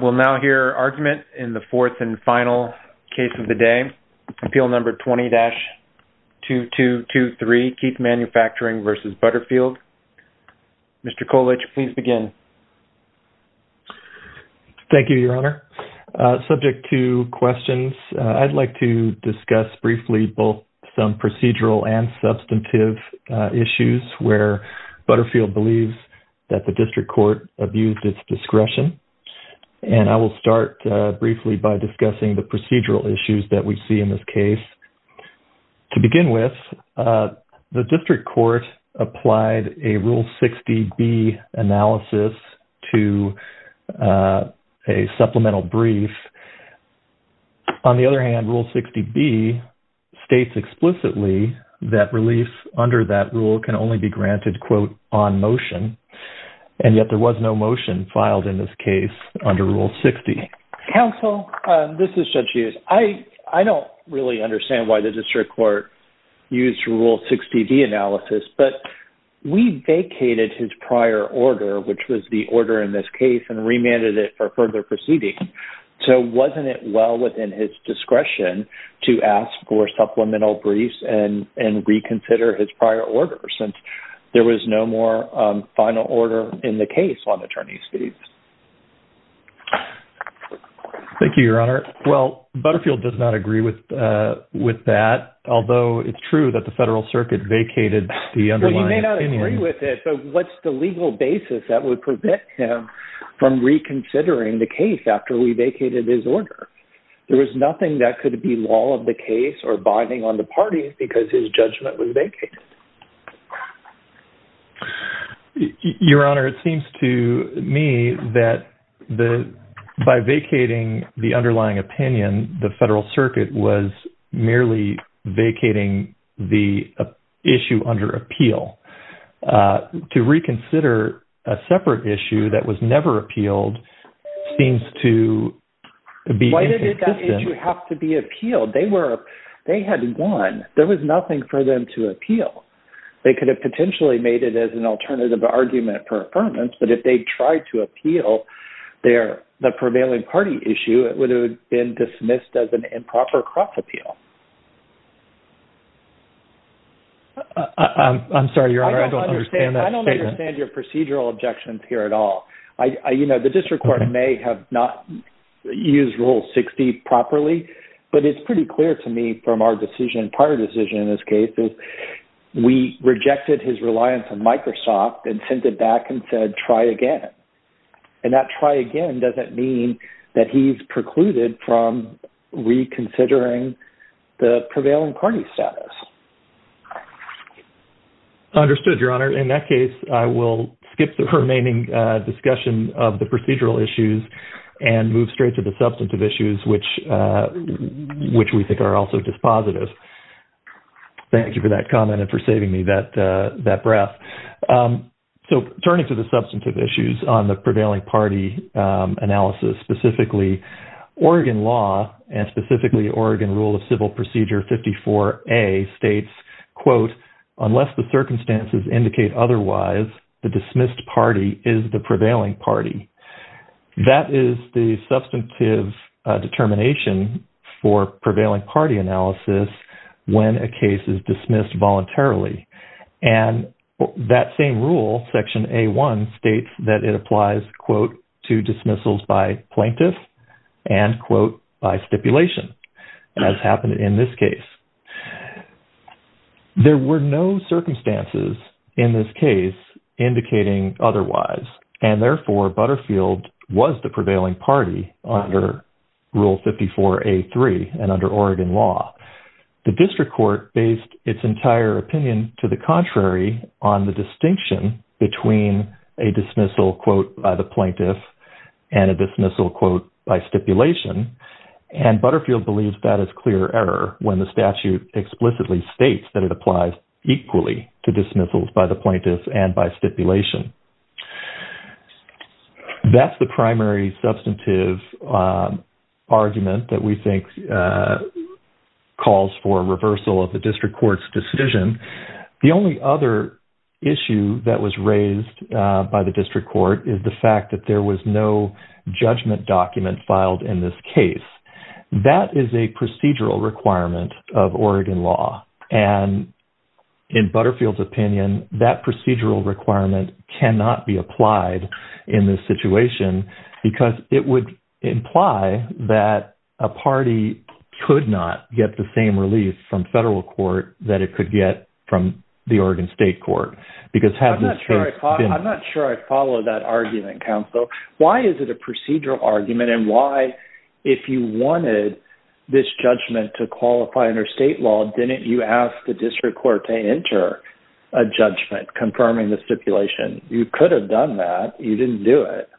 We'll now hear argument in the fourth and final case of the day. Appeal number 20-2223, Keith Manufacturing v. Butterfield. Mr. Colich, please begin. Thank you, Your Honor. Subject to questions, I'd like to discuss briefly both some procedural and substantive issues where Butterfield believes that the District Court abused its discretion. And I will start briefly by discussing the procedural issues that we see in this case. To begin with, the District Court applied a Rule 60B analysis to a supplemental brief. On the other hand, Rule 60B states explicitly that relief under that rule can only be granted quote, on motion. And yet there was no motion filed in this case under Rule 60. Counsel, this is Judge Hughes. I don't really understand why the District Court used Rule 60B analysis, but we vacated his prior order, which was the order in this case, and remanded it for further proceeding. So wasn't it well within his discretion to ask for supplemental briefs and reconsider his prior order since there was no more final order in the case on attorney's fees? Thank you, Your Honor. Well, Butterfield does not agree with that, although it's true that the Federal Circuit vacated the underlying opinion. Well, you may not agree with it, but what's the legal basis that would prevent him from reconsidering the case after we vacated his order? There was nothing that could be law of the case or Your Honor, it seems to me that by vacating the underlying opinion, the Federal Circuit was merely vacating the issue under appeal. To reconsider a separate issue that was never appealed seems to be inconsistent. Why did that issue have to be appealed? They had won. There was nothing for them to appeal. They could have potentially made it as an alternative argument for affirmance, but if they tried to appeal the prevailing party issue, it would have been dismissed as an improper cross-appeal. I'm sorry, Your Honor, I don't understand that statement. I don't understand your procedural objections here at all. You know, the District Court may have not used Rule 60 properly, but it's pretty clear to me from our decision, prior decision in this case, is we rejected his reliance on Microsoft and sent it back and said, try again. And that try again doesn't mean that he's precluded from reconsidering the prevailing party status. Understood, Your Honor. In that case, I will skip the remaining discussion of the procedural issues and move straight to the substantive issues, which we think are also dispositive. Thank you for that comment and for saving me that breath. So turning to the substantive issues on the prevailing party analysis, specifically Oregon law and specifically Oregon Rule of Civil Procedure 54A states, quote, unless the circumstances indicate otherwise, the dismissed party is the substantive determination for prevailing party analysis when a case is dismissed voluntarily. And that same rule, Section A1, states that it applies, quote, to dismissals by plaintiffs and, quote, by stipulation, as happened in this case. There were no circumstances in this case indicating otherwise, and therefore Butterfield was the prevailing party under Rule 54A3 and under Oregon law. The district court based its entire opinion to the contrary on the distinction between a dismissal, quote, by the plaintiff and a dismissal, quote, by stipulation. And Butterfield believes that is clear error when the statute explicitly states that it applies equally to dismissals by the plaintiffs and by the stipulation. That's the primary substantive argument that we think calls for reversal of the district court's decision. The only other issue that was raised by the district court is the fact that there was no judgment document filed in this case. That is a procedural requirement of Oregon law. And in Butterfield's opinion, that procedural requirement cannot be applied in this situation, because it would imply that a party could not get the same relief from federal court that it could get from the Oregon state court. Because having this case- I'm not sure I follow that argument, counsel. Why is it a procedural argument? And why, if you wanted this judgment to qualify under state law, didn't you ask the district court to enter a judgment confirming the stipulation? You could have done that. You didn't do it.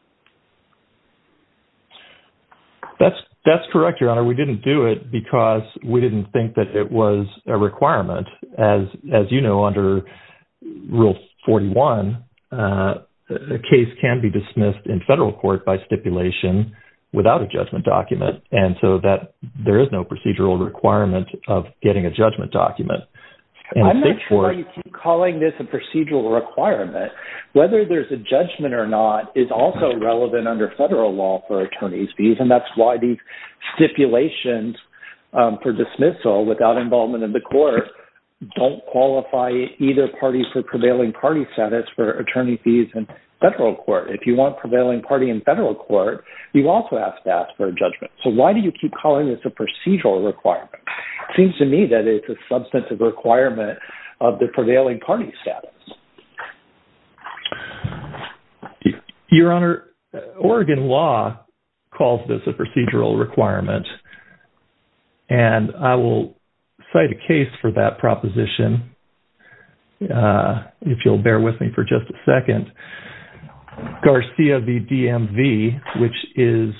That's correct, Your Honor. We didn't do it because we didn't think that it was a requirement. As you know, under Rule 41, a case can be dismissed in federal court by stipulation without a judgment document. And so there is no procedural requirement of getting a judgment document. I'm not sure why you keep calling this a procedural requirement. Whether there's a judgment or not is also relevant under federal law for attorney's fees. And that's why these stipulations for dismissal without involvement in the court don't qualify either parties for prevailing party status for attorney fees in federal court. If you want prevailing party in federal court, you also have to ask for a judgment. So why do you keep calling this a procedural requirement? It seems to me that it's a substantive requirement of the prevailing party status. Your Honor, Oregon law calls this a procedural requirement. And I will cite a case for that proposition if you'll bear with me for just a second. Garcia v. DMV, which is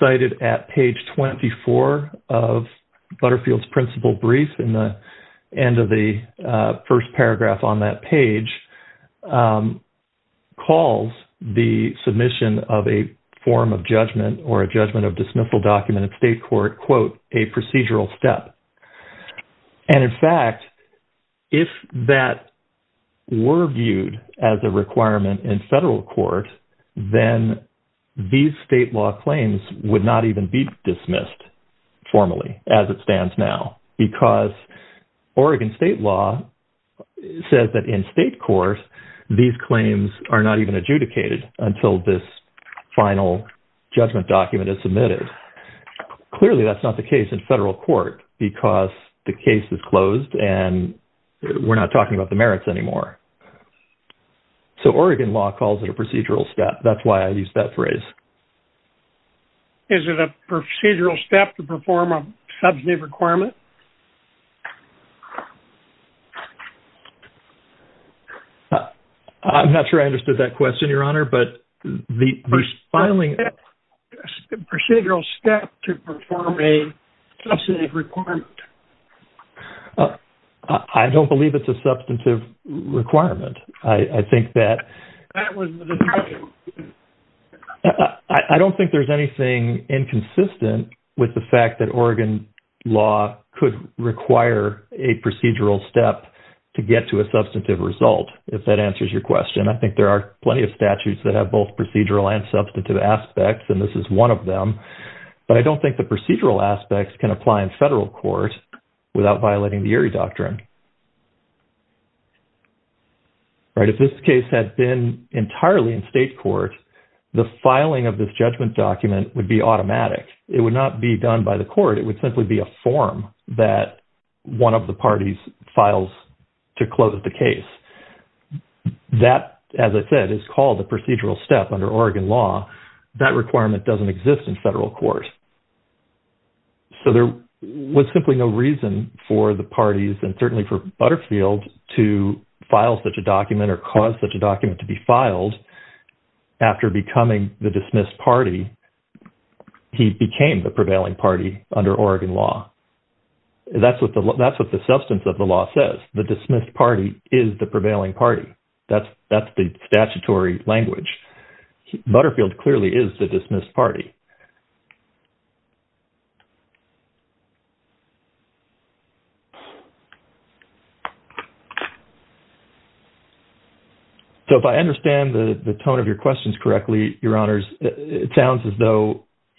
cited at page 24 of Butterfield's principal brief in the end of the first paragraph on that page, calls the submission of a form of judgment or a judgment of dismissal document in state court, quote, a procedural step. And in fact, if that were viewed as a requirement in federal court, then these state law claims would not even be dismissed formally as it stands now because Oregon state law says that in state court, these claims are not even adjudicated until this final judgment document is submitted. Clearly, that's not the case in federal court because the case is closed and we're not talking about the merits anymore. So Oregon law calls it a procedural step. That's why I used that phrase. Is it a procedural step to perform a substantive requirement? I'm not sure I understood that question, Your Honor, but the filing... Is it a procedural step to perform a substantive requirement? I don't believe it's a substantive requirement. I think that... That was the question. I don't think there's anything inconsistent with the fact that Oregon law could require a procedural step to get to a substantive result, if that answers your question. I think there are plenty of statutes that have both procedural and substantive aspects, and this is one of them. But I don't think the procedural aspects can apply in federal court without violating the Erie Doctrine. If this case had been entirely in state court, the filing of this judgment document would be automatic. It would not be done by the court. It would simply be a form that one of the parties files to close the case. That, as I said, is called a procedural step under Oregon law. That requirement doesn't exist in federal court. So there was simply no reason for the parties and certainly for Butterfield to file such a document or cause such a document to be filed after becoming the dismissed party. He became the prevailing party under Oregon law. That's what the substance of the law says. The dismissed party is the prevailing party. That's the statutory language. Butterfield clearly is the dismissed party. So if I understand the tone of your questions correctly, Your Honors, it sounds as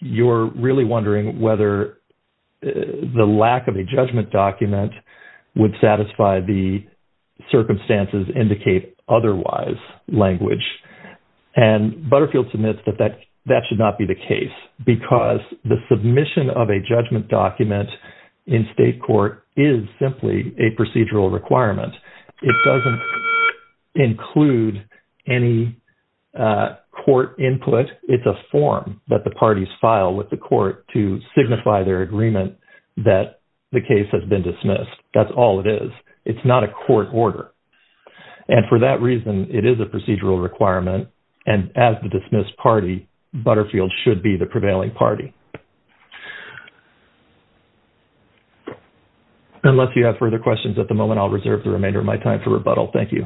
you're really wondering whether the lack of a judgment document would satisfy the circumstances indicate otherwise language. And Butterfield submits that that should not be the case because the submission of a judgment document in state court is simply a procedural requirement. It doesn't include any court input. It's a form that the parties file with the court to signify their agreement that the case has been dismissed. That's all it is. It's not a court order. And for that reason, it is a procedural requirement. And as the dismissed party, Butterfield should be the prevailing party. Okay. Unless you have further questions at the moment, I'll reserve the remainder of my time to rebuttal. Thank you.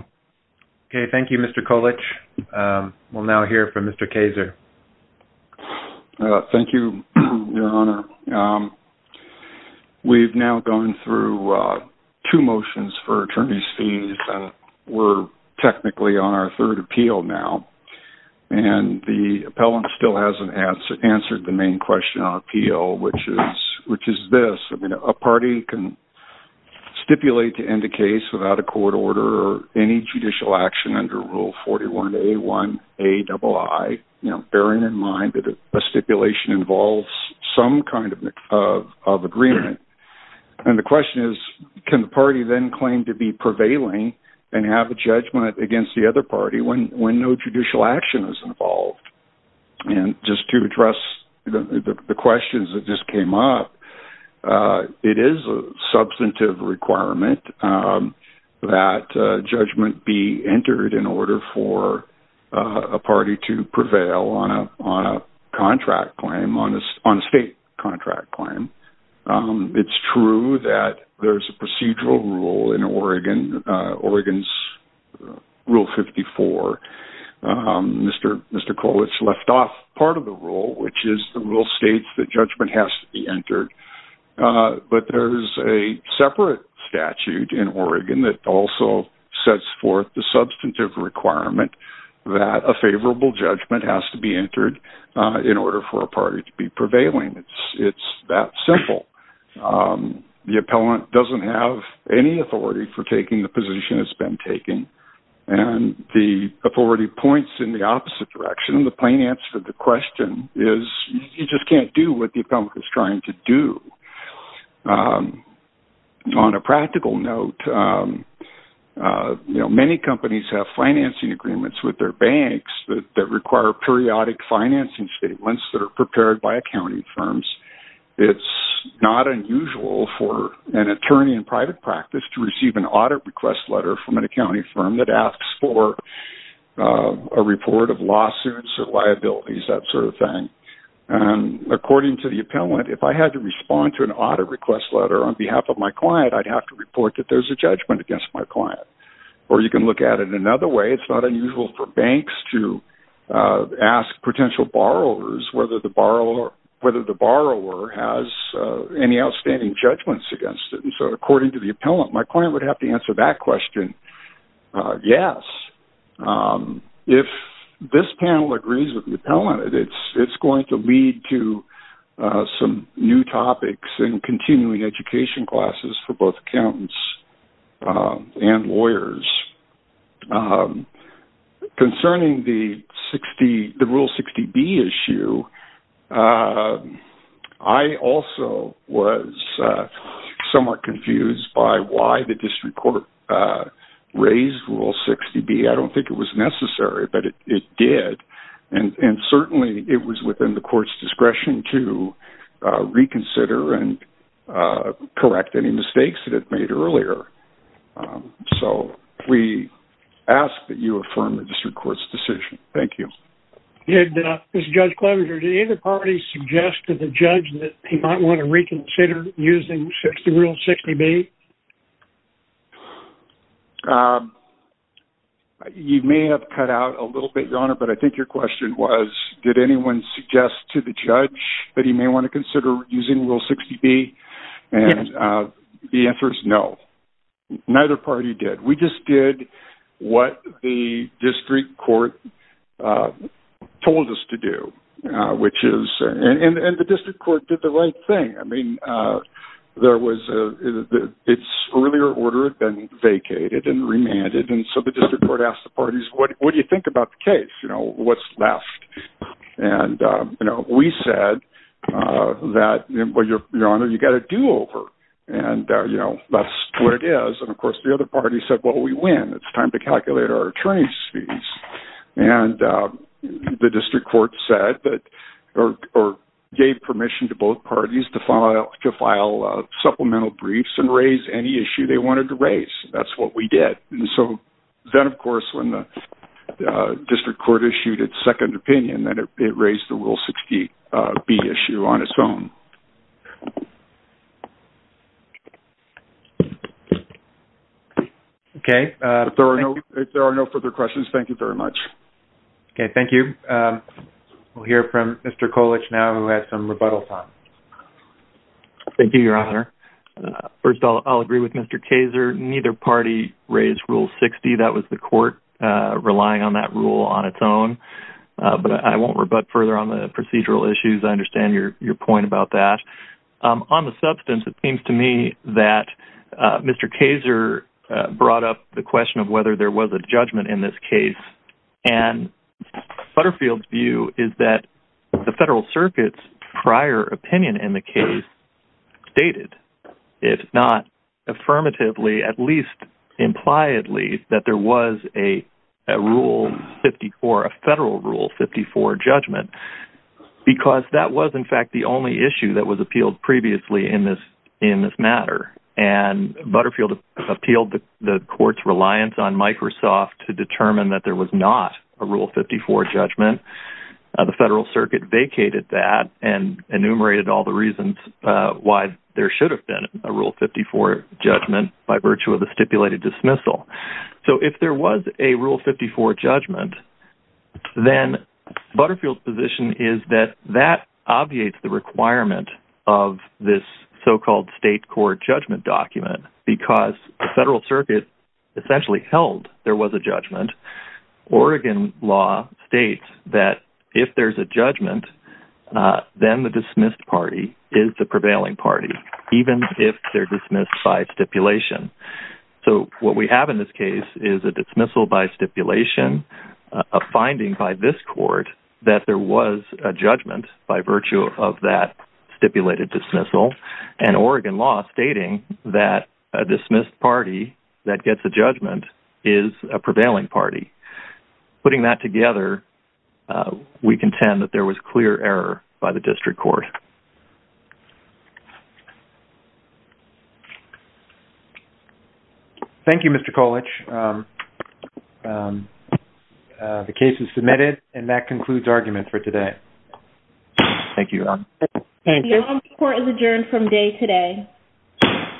Okay. Thank you, Mr. Kolich. We'll now hear from Mr. Kayser. Thank you, Your Honor. We've now gone through two motions for attorney's fees. We're technically on appeal, which is this. A party can stipulate to end a case without a court order or any judicial action under rule 41A1AII, bearing in mind that a stipulation involves some kind of agreement. And the question is, can the party then claim to be prevailing and have a judgment against the party when no judicial action is involved? And just to address the questions that just came up, it is a substantive requirement that judgment be entered in order for a party to prevail on a state contract claim. It's true that there's a procedural rule in Oregon, Oregon's rule 54. Mr. Kolich left off part of the rule, which is the rule states that judgment has to be entered. But there's a separate statute in Oregon that also sets forth the substantive requirement that a favorable judgment has to be entered in order for a party to be prevailing. It's that simple. The appellant doesn't have any authority for taking the position it's been taking and the authority points in the opposite direction. The plain answer to the question is you just can't do what the appellant is trying to do. On a practical note, many companies have financing agreements with their banks that require periodic financing statements that are prepared by accounting firms. It's not unusual for an attorney in private practice to receive an audit request letter from an accounting firm that asks for a report of lawsuits or liabilities, that sort of thing. And according to the appellant, if I had to respond to an audit request letter on behalf of my client, I'd have to report that there's a judgment against my client. Or you can look at it another way. It's not unusual for banks to ask potential borrowers whether the borrower has any outstanding judgments against them. So, according to the appellant, my client would have to answer that question, yes. If this panel agrees with the appellant, it's going to lead to some new topics in continuing education classes for both the appellant and the client. I also was somewhat confused by why the district court raised Rule 60B. I don't think it was necessary, but it did. And certainly, it was within the court's discretion to reconsider and correct any mistakes that it made earlier. So, we ask that you affirm the district court's decision. Thank you. Did either party suggest to the judge that he might want to reconsider using Rule 60B? You may have cut out a little bit, Your Honor, but I think your question was, did anyone suggest to the judge that he may want to consider using Rule 60B? And the answer is no. Neither party did. We just did what the district court told us to do. And the district court did the right thing. I mean, its earlier order had been vacated and remanded. And so, the district court asked the parties, what do you think about the case? What's left? And we said that, Your Honor, we're going to go with what it is. And of course, the other party said, well, we win. It's time to calculate our attorney's fees. And the district court gave permission to both parties to file supplemental briefs and raise any issue they wanted to raise. That's what we did. And so, then of course, when the district court issued its second opinion, it raised the Rule 60B issue on its own. Okay. If there are no further questions, thank you very much. Okay. Thank you. We'll hear from Mr. Kolic now who has some rebuttal time. Thank you, Your Honor. First, I'll agree with Mr. Kaser. Neither party raised Rule 60. That was the court relying on that rule on its own. But I won't rebut further on the procedural issues. I agree with your point about that. On the substance, it seems to me that Mr. Kaser brought up the question of whether there was a judgment in this case. And Butterfield's view is that the federal circuit's prior opinion in the case stated, if not affirmatively, at least impliedly, that there was a Federal Rule 54 judgment. Because that was, in fact, the only issue that was appealed previously in this matter. And Butterfield appealed the court's reliance on Microsoft to determine that there was not a Rule 54 judgment. The federal circuit vacated that and enumerated all the reasons why there should have been a Rule 54 judgment by virtue of the Federal Rule 54. So if there was a Rule 54 judgment, then Butterfield's position is that that obviates the requirement of this so-called state court judgment document because the federal circuit essentially held there was a judgment. Oregon law states that if there's a judgment, then the dismissed party is the prevailing party, even if they're dismissed by stipulation. So what we have in this case is a dismissal by stipulation, a finding by this court that there was a judgment by virtue of that stipulated dismissal, and Oregon law stating that a dismissed party that gets a judgment is a prevailing party. Putting that together, we contend that there was clear error by the district court. Thank you, Mr. Kolich. The case is submitted, and that concludes argument for today. Thank you. Thank you. Court is adjourned from day today.